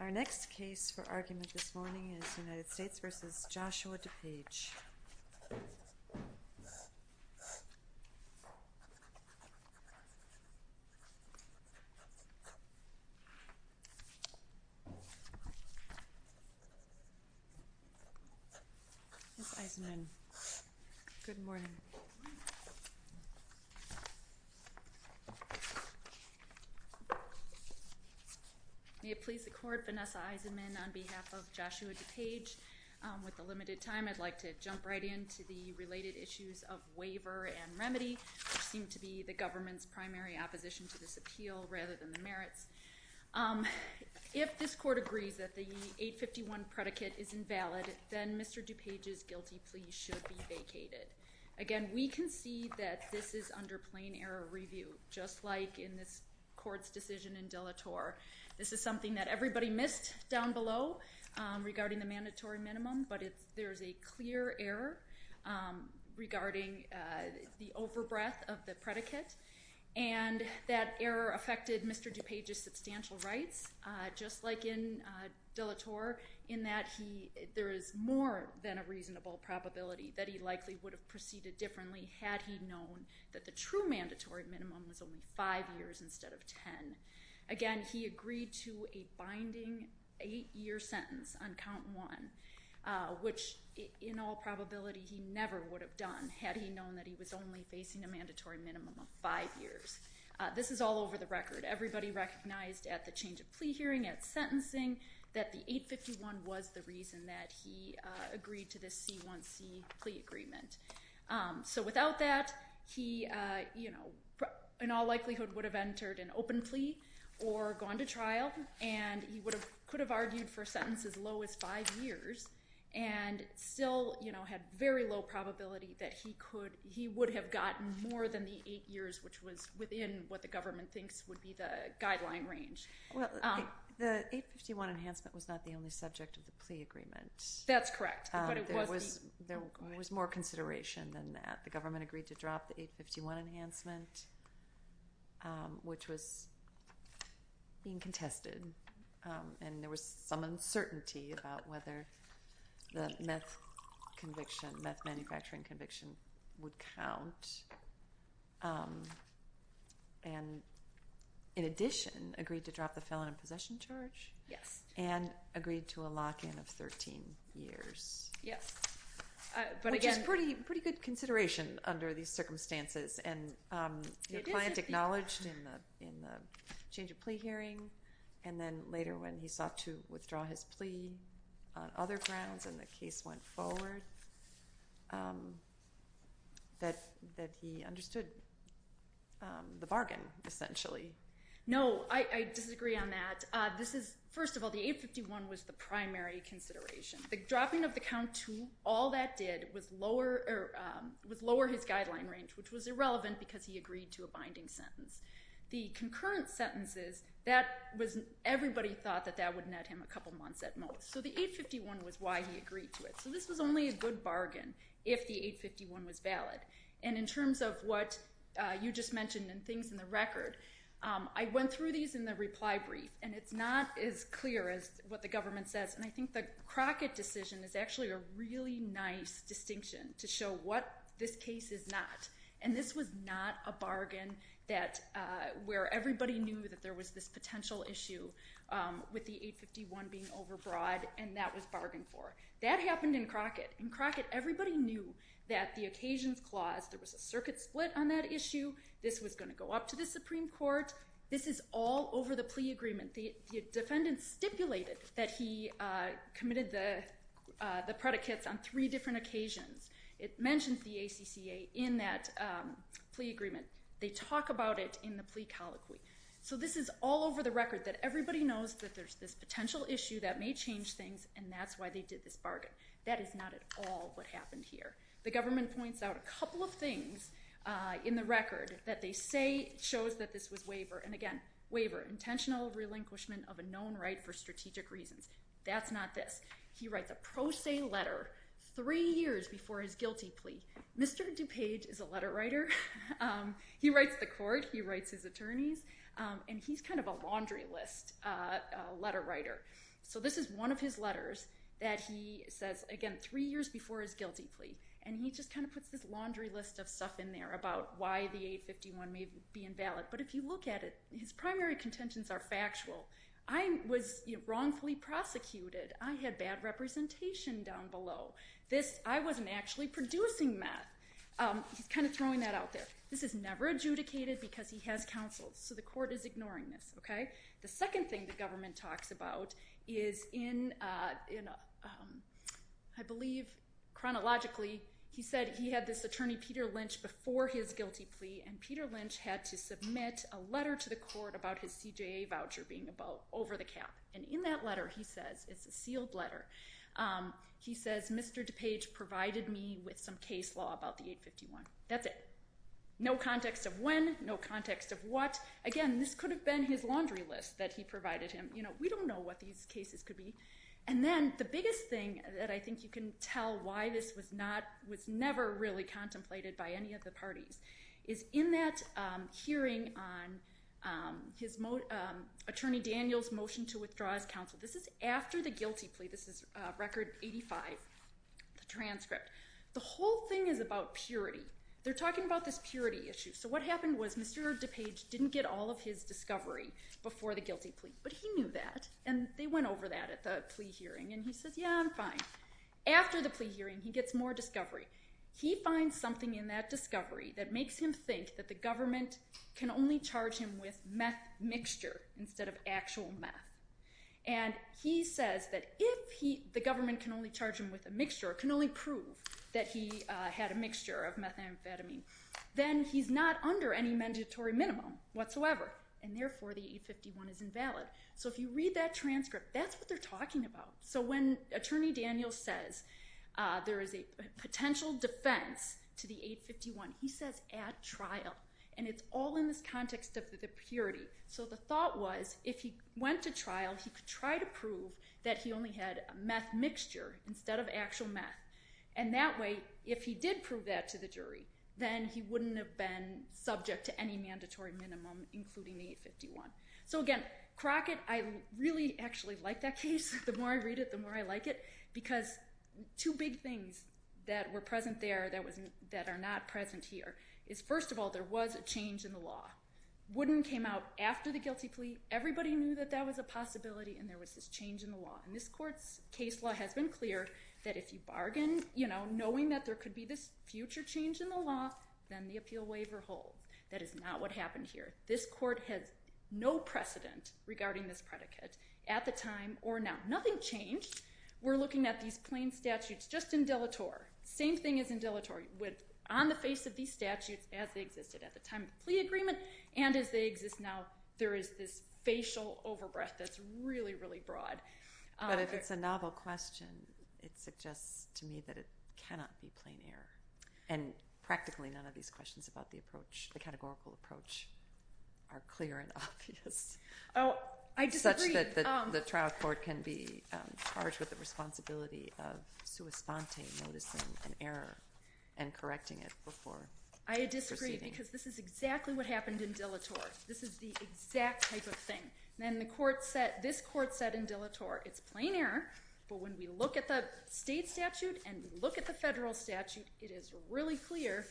Our next case for argument this morning is United States v. Joshua DuPage. Ms. Eisenman, good morning. May it please the court, Vanessa Eisenman on behalf of Joshua DuPage. With the limited time, I'd like to jump right into the related issues of waiver and remedy, which seem to be the government's primary opposition to this appeal rather than the merits. If this court agrees that the 851 predicate is invalid, then Mr. DuPage's guilty plea should be vacated. Again, we concede that this is under plain error review, just like in this court's decision in Delatorre. This is something that everybody missed down below regarding the mandatory minimum, but there's a clear error regarding the overbreath of the predicate, and that error affected Mr. DuPage's substantial rights, just like in Delatorre, in that there is more than a reasonable probability that he likely would have proceeded differently had he known that the true mandatory minimum was only five years instead of ten. Again, he agreed to a binding eight-year sentence on count one, which in all probability he never would have done had he known that he was only facing a mandatory minimum of five years. This is all over the record. Everybody recognized at the change of plea hearing, at sentencing, that the 851 was the reason that he agreed to this C1C plea agreement. So without that, he in all likelihood would have entered an open plea or gone to trial, and he could have argued for a sentence as low as five years and still had very low probability that he would have gotten more than the eight years, which was within what the government thinks would be the guideline range. Well, the 851 enhancement was not the only subject of the plea agreement. That's correct. There was more consideration than that. The government agreed to drop the 851 enhancement, which was being contested, and there was some uncertainty about whether the meth manufacturing conviction would count. And in addition, agreed to drop the felon in possession charge? Yes. And agreed to a lock-in of 13 years. Yes. Which is pretty good consideration under these circumstances, and your client acknowledged in the change of plea hearing and then later when he sought to withdraw his plea on other grounds and the case went forward that he understood the bargain, essentially. No, I disagree on that. First of all, the 851 was the primary consideration. The dropping of the count to all that did was lower his guideline range, which was irrelevant because he agreed to a binding sentence. The concurrent sentences, everybody thought that that would net him a couple months at most. So the 851 was why he agreed to it. So this was only a good bargain if the 851 was valid. And in terms of what you just mentioned and things in the record, I went through these in the reply brief, and it's not as clear as what the government says. And I think the Crockett decision is actually a really nice distinction to show what this case is not. And this was not a bargain where everybody knew that there was this potential issue with the 851 being overbroad, and that was bargained for. That happened in Crockett. In Crockett, everybody knew that the occasions clause, there was a circuit split on that issue, this was going to go up to the Supreme Court. This is all over the plea agreement. The defendant stipulated that he committed the predicates on three different occasions. It mentions the ACCA in that plea agreement. They talk about it in the plea colloquy. So this is all over the record that everybody knows that there's this potential issue that may change things, and that's why they did this bargain. That is not at all what happened here. The government points out a couple of things in the record that they say shows that this was waiver. And, again, waiver, intentional relinquishment of a known right for strategic reasons. That's not this. He writes a pro se letter three years before his guilty plea. Mr. DuPage is a letter writer. He writes the court, he writes his attorneys, and he's kind of a laundry list letter writer. So this is one of his letters that he says, again, three years before his guilty plea. And he just kind of puts this laundry list of stuff in there about why the 851 may be invalid. But if you look at it, his primary contentions are factual. I was wrongfully prosecuted. I had bad representation down below. I wasn't actually producing that. He's kind of throwing that out there. This is never adjudicated because he has counsel, so the court is ignoring this. The second thing the government talks about is in, I believe, chronologically, he said he had this attorney, Peter Lynch, before his guilty plea, and Peter Lynch had to submit a letter to the court about his CJA voucher being over the cap. And in that letter, he says, it's a sealed letter, he says, Mr. DuPage provided me with some case law about the 851. That's it. No context of when, no context of what. Again, this could have been his laundry list that he provided him. We don't know what these cases could be. And then the biggest thing that I think you can tell why this was never really contemplated by any of the parties is in that hearing on Attorney Daniel's motion to withdraw his counsel. This is after the guilty plea. This is Record 85, the transcript. The whole thing is about purity. They're talking about this purity issue. So what happened was Mr. DuPage didn't get all of his discovery before the guilty plea, but he knew that, and they went over that at the plea hearing, and he says, yeah, I'm fine. After the plea hearing, he gets more discovery. He finds something in that discovery that makes him think that the government can only charge him with meth mixture instead of actual meth. And he says that if the government can only charge him with a mixture, can only prove that he had a mixture of methamphetamine, then he's not under any mandatory minimum whatsoever, and therefore the 851 is invalid. So if you read that transcript, that's what they're talking about. So when Attorney Daniel says there is a potential defense to the 851, he says at trial, and it's all in this context of the purity. So the thought was if he went to trial, he could try to prove that he only had a meth mixture instead of actual meth. And that way, if he did prove that to the jury, then he wouldn't have been subject to any mandatory minimum, including the 851. So again, Crockett, I really actually like that case. The more I read it, the more I like it, because two big things that were present there that are not present here is, first of all, there was a change in the law. Wooden came out after the guilty plea. Everybody knew that that was a possibility, and there was this change in the law. And this court's case law has been clear that if you bargain, you know, knowing that there could be this future change in the law, then the appeal waiver holds. That is not what happened here. This court has no precedent regarding this predicate at the time or now. Nothing changed. We're looking at these plain statutes just in dilator. Same thing as in dilator, on the face of these statutes as they existed at the time of the plea agreement and as they exist now, there is this facial overbreath that's really, really broad. But if it's a novel question, it suggests to me that it cannot be plain error. And practically none of these questions about the approach, the categorical approach, are clear and obvious. Oh, I disagree. Such that the trial court can be charged with the responsibility of sua sponte, noticing an error, and correcting it before proceeding. I disagree because this is exactly what happened in dilator. This is the exact type of thing. And this court said in dilator, it's plain error, but when we look at the state statute and look at the federal statute, it is really clear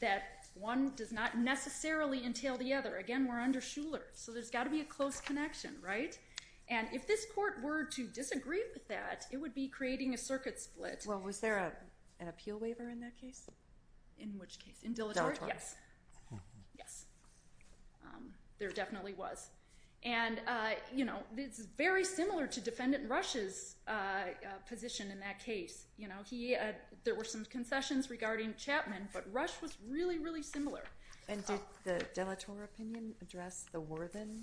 that one does not necessarily entail the other. Again, we're under Shuler, so there's got to be a close connection, right? And if this court were to disagree with that, it would be creating a circuit split. Well, was there an appeal waiver in that case? In which case? In dilator? Yes. Yes. There definitely was. And it's very similar to Defendant Rush's position in that case. There were some concessions regarding Chapman, but Rush was really, really similar. And did the dilator opinion address the Worthen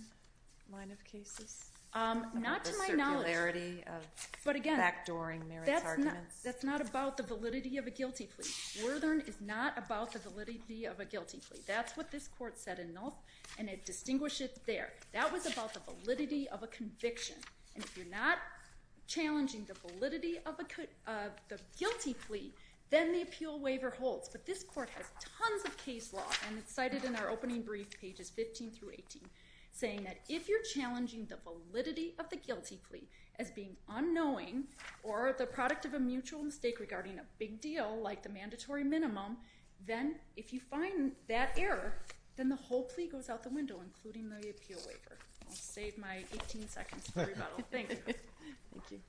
line of cases? Not to my knowledge. The circularity of backdooring merits arguments. That's not about the validity of a guilty plea. Worthen is not about the validity of a guilty plea. That's what this court said in Nulth, and it distinguished it there. That was about the validity of a conviction. And if you're not challenging the validity of the guilty plea, then the appeal waiver holds. But this court has tons of case law, and it's cited in our opening brief, pages 15 through 18, saying that if you're challenging the validity of the guilty plea as being unknowing or the product of a mutual mistake regarding a big deal like the mandatory minimum, then if you find that error, then the whole plea goes out the window, including the appeal waiver. I'll save my 18 seconds for rebuttal. Thank you. Thank you.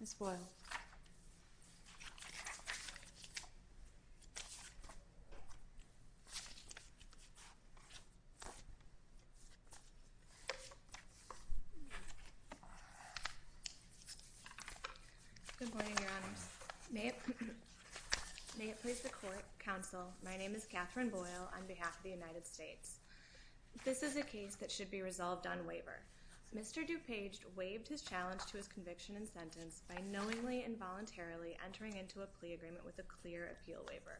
Ms. Boyle. Good morning, Your Honors. May it please the court, counsel, my name is Catherine Boyle on behalf of the United States. This is a case that should be resolved on waiver. Mr. DuPage waived his challenge to his conviction and sentence by knowingly and voluntarily entering into a plea agreement with a clear appeal waiver.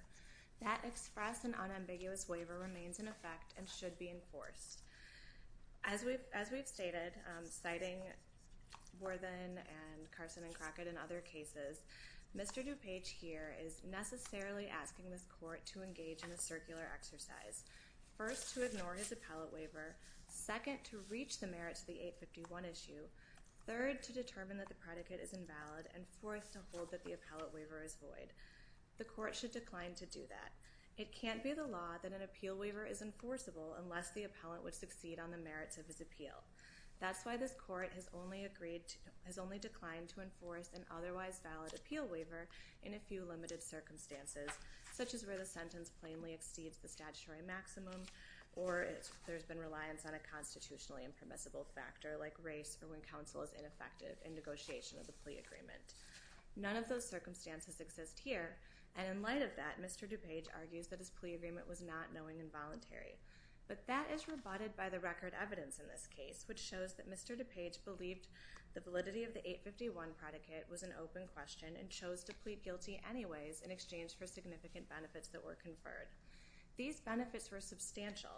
That express and unambiguous waiver remains in effect and should be enforced. As we've stated, citing Worthen and Carson and Crockett and other cases, Mr. DuPage here is necessarily asking this court to engage in a circular exercise, first, to ignore his appellate waiver, second, to reach the merits of the 851 issue, third, to determine that the predicate is invalid, and fourth, to hold that the appellate waiver is void. The court should decline to do that. It can't be the law that an appeal waiver is enforceable unless the appellant would succeed on the merits of his appeal. That's why this court has only declined to enforce an otherwise valid appeal waiver in a few limited circumstances, such as where the sentence plainly exceeds the statutory maximum or there's been reliance on a constitutionally impermissible factor like race or when counsel is ineffective in negotiation of the plea agreement. None of those circumstances exist here, and in light of that, Mr. DuPage argues that his plea agreement was not knowing and voluntary. But that is rebutted by the record evidence in this case, which shows that Mr. DuPage believed the validity of the 851 predicate was an open question and chose to plead guilty anyways in exchange for significant benefits that were conferred. These benefits were substantial.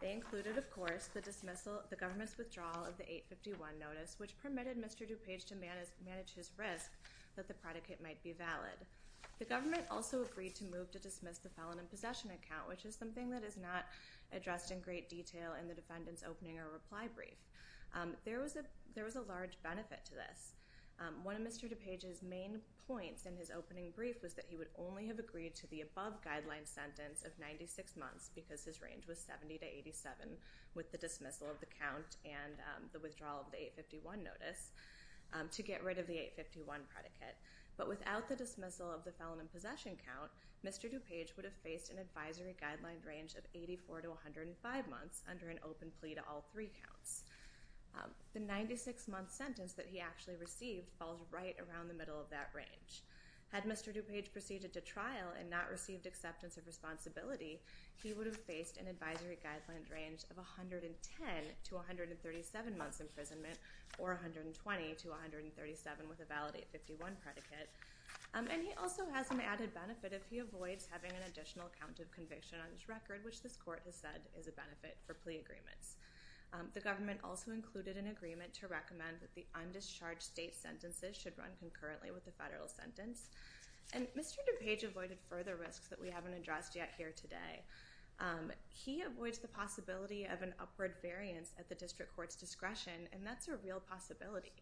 They included, of course, the dismissal, the government's withdrawal of the 851 notice, which permitted Mr. DuPage to manage his risk that the predicate might be valid. The government also agreed to move to dismiss the felon in possession account, which is something that is not addressed in great detail in the defendant's opening or reply brief. There was a large benefit to this. One of Mr. DuPage's main points in his opening brief was that he would only have agreed to the above guideline sentence of 96 months because his range was 70 to 87 with the dismissal of the count and the withdrawal of the 851 notice to get rid of the 851 predicate. But without the dismissal of the felon in possession count, Mr. DuPage would have faced an advisory guideline range of 84 to 105 months under an open plea to all three counts. The 96-month sentence that he actually received falls right around the middle of that range. Had Mr. DuPage proceeded to trial and not received acceptance of responsibility, he would have faced an advisory guideline range of 110 to 137 months imprisonment or 120 to 137 with a valid 851 predicate. And he also has an added benefit if he avoids having an additional count of conviction on his record, which this court has said is a benefit for plea agreements. The government also included an agreement to recommend that the undischarged state sentences should run concurrently with the federal sentence. And Mr. DuPage avoided further risks that we haven't addressed yet here today. He avoids the possibility of an upward variance at the district court's discretion, and that's a real possibility.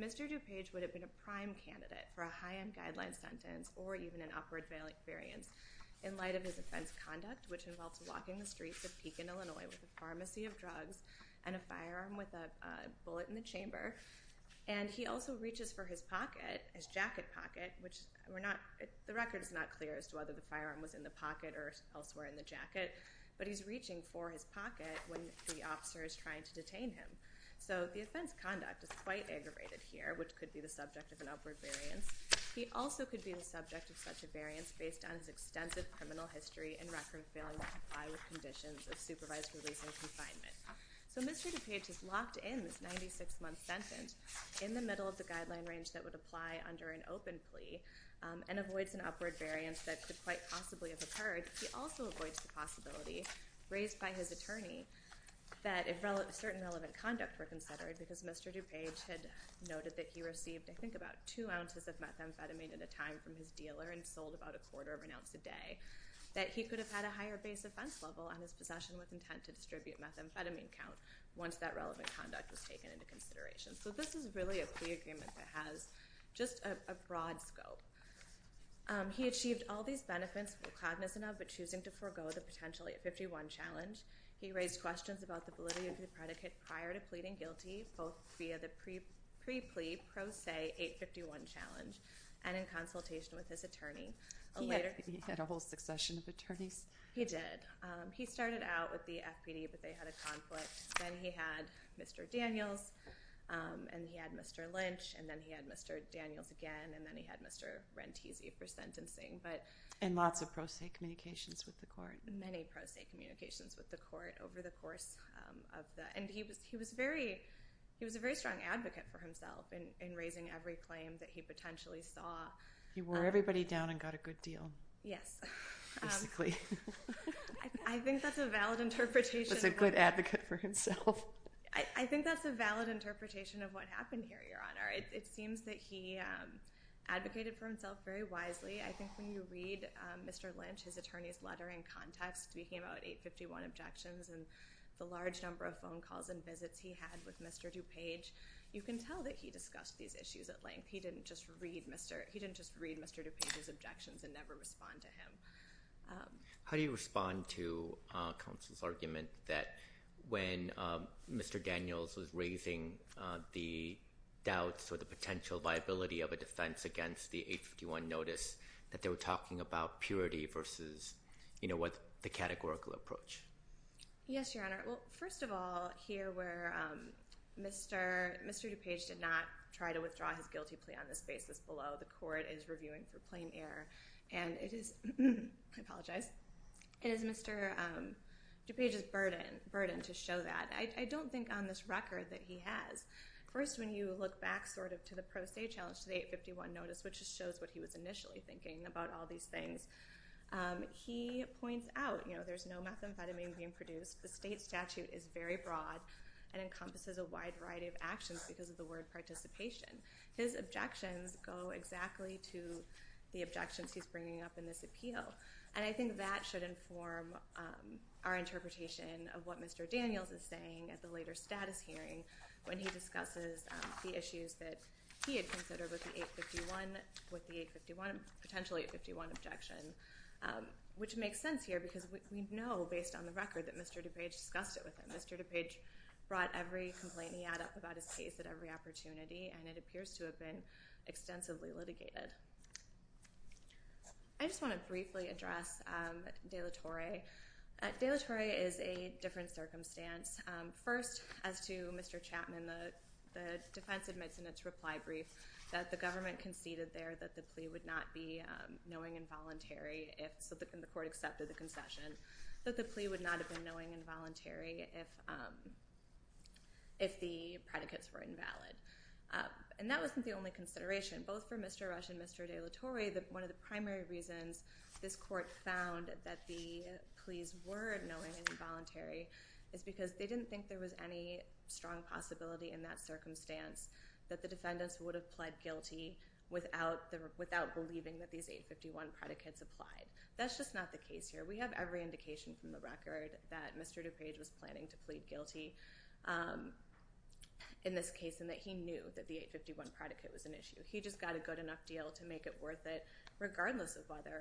Mr. DuPage would have been a prime candidate for a high-end guideline sentence or even an upward variance in light of his offense conduct, which involves walking the streets of Pekin, Illinois, with a pharmacy of drugs and a firearm with a bullet in the chamber. And he also reaches for his pocket, his jacket pocket, which the record is not clear as to whether the firearm was in the pocket or elsewhere in the jacket, but he's reaching for his pocket when the officer is trying to detain him. So the offense conduct is quite aggravated here, which could be the subject of an upward variance. He also could be the subject of such a variance based on his extensive criminal history and record of failing to comply with conditions of supervised release and confinement. So Mr. DuPage is locked in this 96-month sentence in the middle of the guideline range that would apply under an open plea and avoids an upward variance that could quite possibly have occurred. He also avoids the possibility raised by his attorney that certain relevant conduct were considered because Mr. DuPage had noted that he received, I think, about two ounces of methamphetamine at a time from his dealer and sold about a quarter of an ounce a day, that he could have had a higher base offense level on his possession with intent to distribute methamphetamine count once that relevant conduct was taken into consideration. So this is really a plea agreement that has just a broad scope. He achieved all these benefits for cloudiness enough, but choosing to forego the potential 851 challenge. He raised questions about the validity of the predicate prior to pleading guilty, both via the pre-plea pro se 851 challenge and in consultation with his attorney. He had a whole succession of attorneys. He did. He started out with the FPD, but they had a conflict. Then he had Mr. Daniels, and he had Mr. Lynch, and then he had Mr. Daniels again, and then he had Mr. Rentesi for sentencing. And lots of pro se communications with the court. Many pro se communications with the court over the course of that. And he was a very strong advocate for himself in raising every claim that he potentially saw. He wore everybody down and got a good deal. Yes. Basically. I think that's a valid interpretation. He was a good advocate for himself. I think that's a valid interpretation of what happened here, Your Honor. It seems that he advocated for himself very wisely. I think when you read Mr. Lynch, his attorney's letter in context, speaking about 851 objections and the large number of phone calls and visits he had with Mr. DuPage, you can tell that he discussed these issues at length. He didn't just read Mr. DuPage's objections and never respond to him. How do you respond to counsel's argument that when Mr. Daniels was raising the doubts or the potential viability of a defense against the 851 notice, that they were talking about purity versus the categorical approach? Yes, Your Honor. Well, first of all, here where Mr. DuPage did not try to withdraw his guilty plea on this basis below, the court is reviewing for plain error. And it is Mr. DuPage's burden to show that. I don't think on this record that he has. First, when you look back sort of to the pro se challenge to the 851 notice, which shows what he was initially thinking about all these things, he points out there's no methamphetamine being produced. The state statute is very broad and encompasses a wide variety of actions because of the word participation. His objections go exactly to the objections he's bringing up in this appeal. And I think that should inform our interpretation of what Mr. Daniels is saying at the later status hearing when he discusses the issues that he had considered with the 851, with the potential 851 objection, which makes sense here because we know, based on the record, that Mr. DuPage discussed it with him. Mr. DuPage brought every complaint he had up about his case at every opportunity, and it appears to have been extensively litigated. I just want to briefly address de la Torre. De la Torre is a different circumstance. First, as to Mr. Chapman, the defense admits in its reply brief that the government conceded there that the plea would not be knowing and voluntary if the court accepted the concession, that the plea would not have been knowing and voluntary if the predicates were invalid. And that wasn't the only consideration. Both for Mr. Rush and Mr. de la Torre, one of the primary reasons this court found that the pleas were knowing and voluntary is because they didn't think there was any strong possibility in that circumstance that the defendants would have pled guilty without believing that these 851 predicates applied. That's just not the case here. We have every indication from the record that Mr. DuPage was planning to plead guilty in this case and that he knew that the 851 predicate was an issue. He just got a good enough deal to make it worth it regardless of whether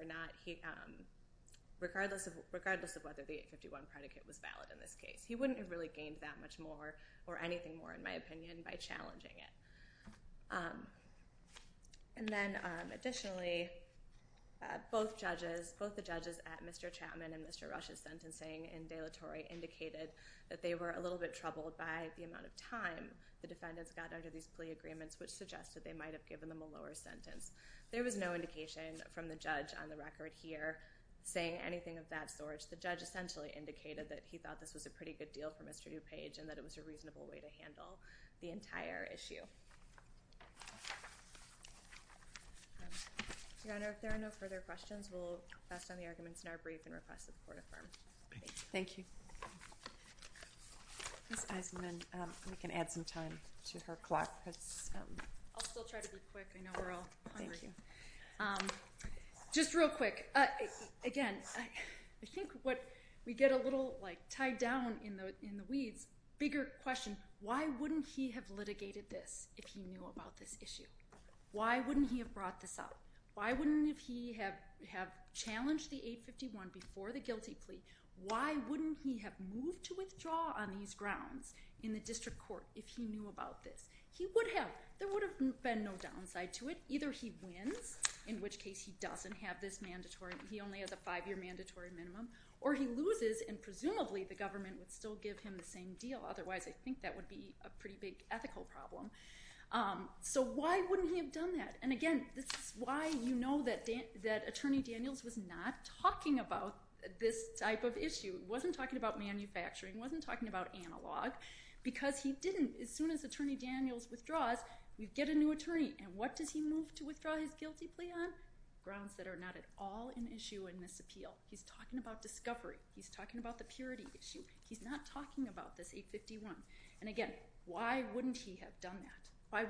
the 851 predicate was valid in this case. He wouldn't have really gained that much more or anything more, in my opinion, by challenging it. And then, additionally, both the judges at Mr. Chapman and Mr. Rush's sentencing in de la Torre indicated that they were a little bit troubled by the amount of time the defendants got under these plea agreements, which suggested they might have given them a lower sentence. There was no indication from the judge on the record here saying anything of that sort. The judge essentially indicated that he thought this was a pretty good deal for Mr. DuPage and that it was a reasonable way to handle the entire issue. Your Honor, if there are no further questions, we'll pass on the arguments in our brief and request that the court affirm. Thank you. Ms. Eisenman, we can add some time to her clock. I'll still try to be quick. I know we're all hungry. Thank you. Just real quick, again, I think what we get a little tied down in the weeds, a bigger question, why wouldn't he have litigated this if he knew about this issue? Why wouldn't he have brought this up? Why wouldn't he have challenged the 851 before the guilty plea? Why wouldn't he have moved to withdraw on these grounds in the district court if he knew about this? He would have. There would have been no downside to it. Either he wins, in which case he doesn't have this mandatory, he only has a five-year mandatory minimum, or he loses and presumably the government would still give him the same deal. Otherwise, I think that would be a pretty big ethical problem. So why wouldn't he have done that? Again, this is why you know that Attorney Daniels was not talking about this type of issue. He wasn't talking about manufacturing. He wasn't talking about analog because he didn't. As soon as Attorney Daniels withdraws, you get a new attorney. What does he move to withdraw his guilty plea on? Grounds that are not at all an issue in this appeal. He's talking about discovery. He's talking about the purity issue. He's not talking about this 851. Again, why wouldn't he have done that?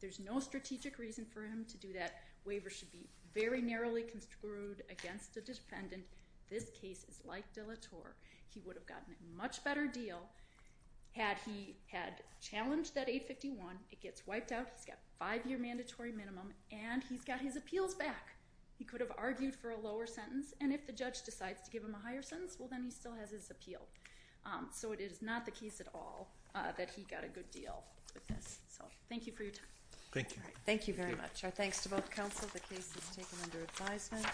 There's no strategic reason for him to do that. Waivers should be very narrowly construed against a defendant. This case is like De La Torre. He would have gotten a much better deal had he had challenged that 851. It gets wiped out. He's got a five-year mandatory minimum, and he's got his appeals back. He could have argued for a lower sentence, and if the judge decides to give him a higher sentence, well then he still has his appeal. So it is not the case at all that he got a good deal with this. Thank you for your time. Thank you. Thank you very much. Our thanks to both counsel. The case is taken under advisement.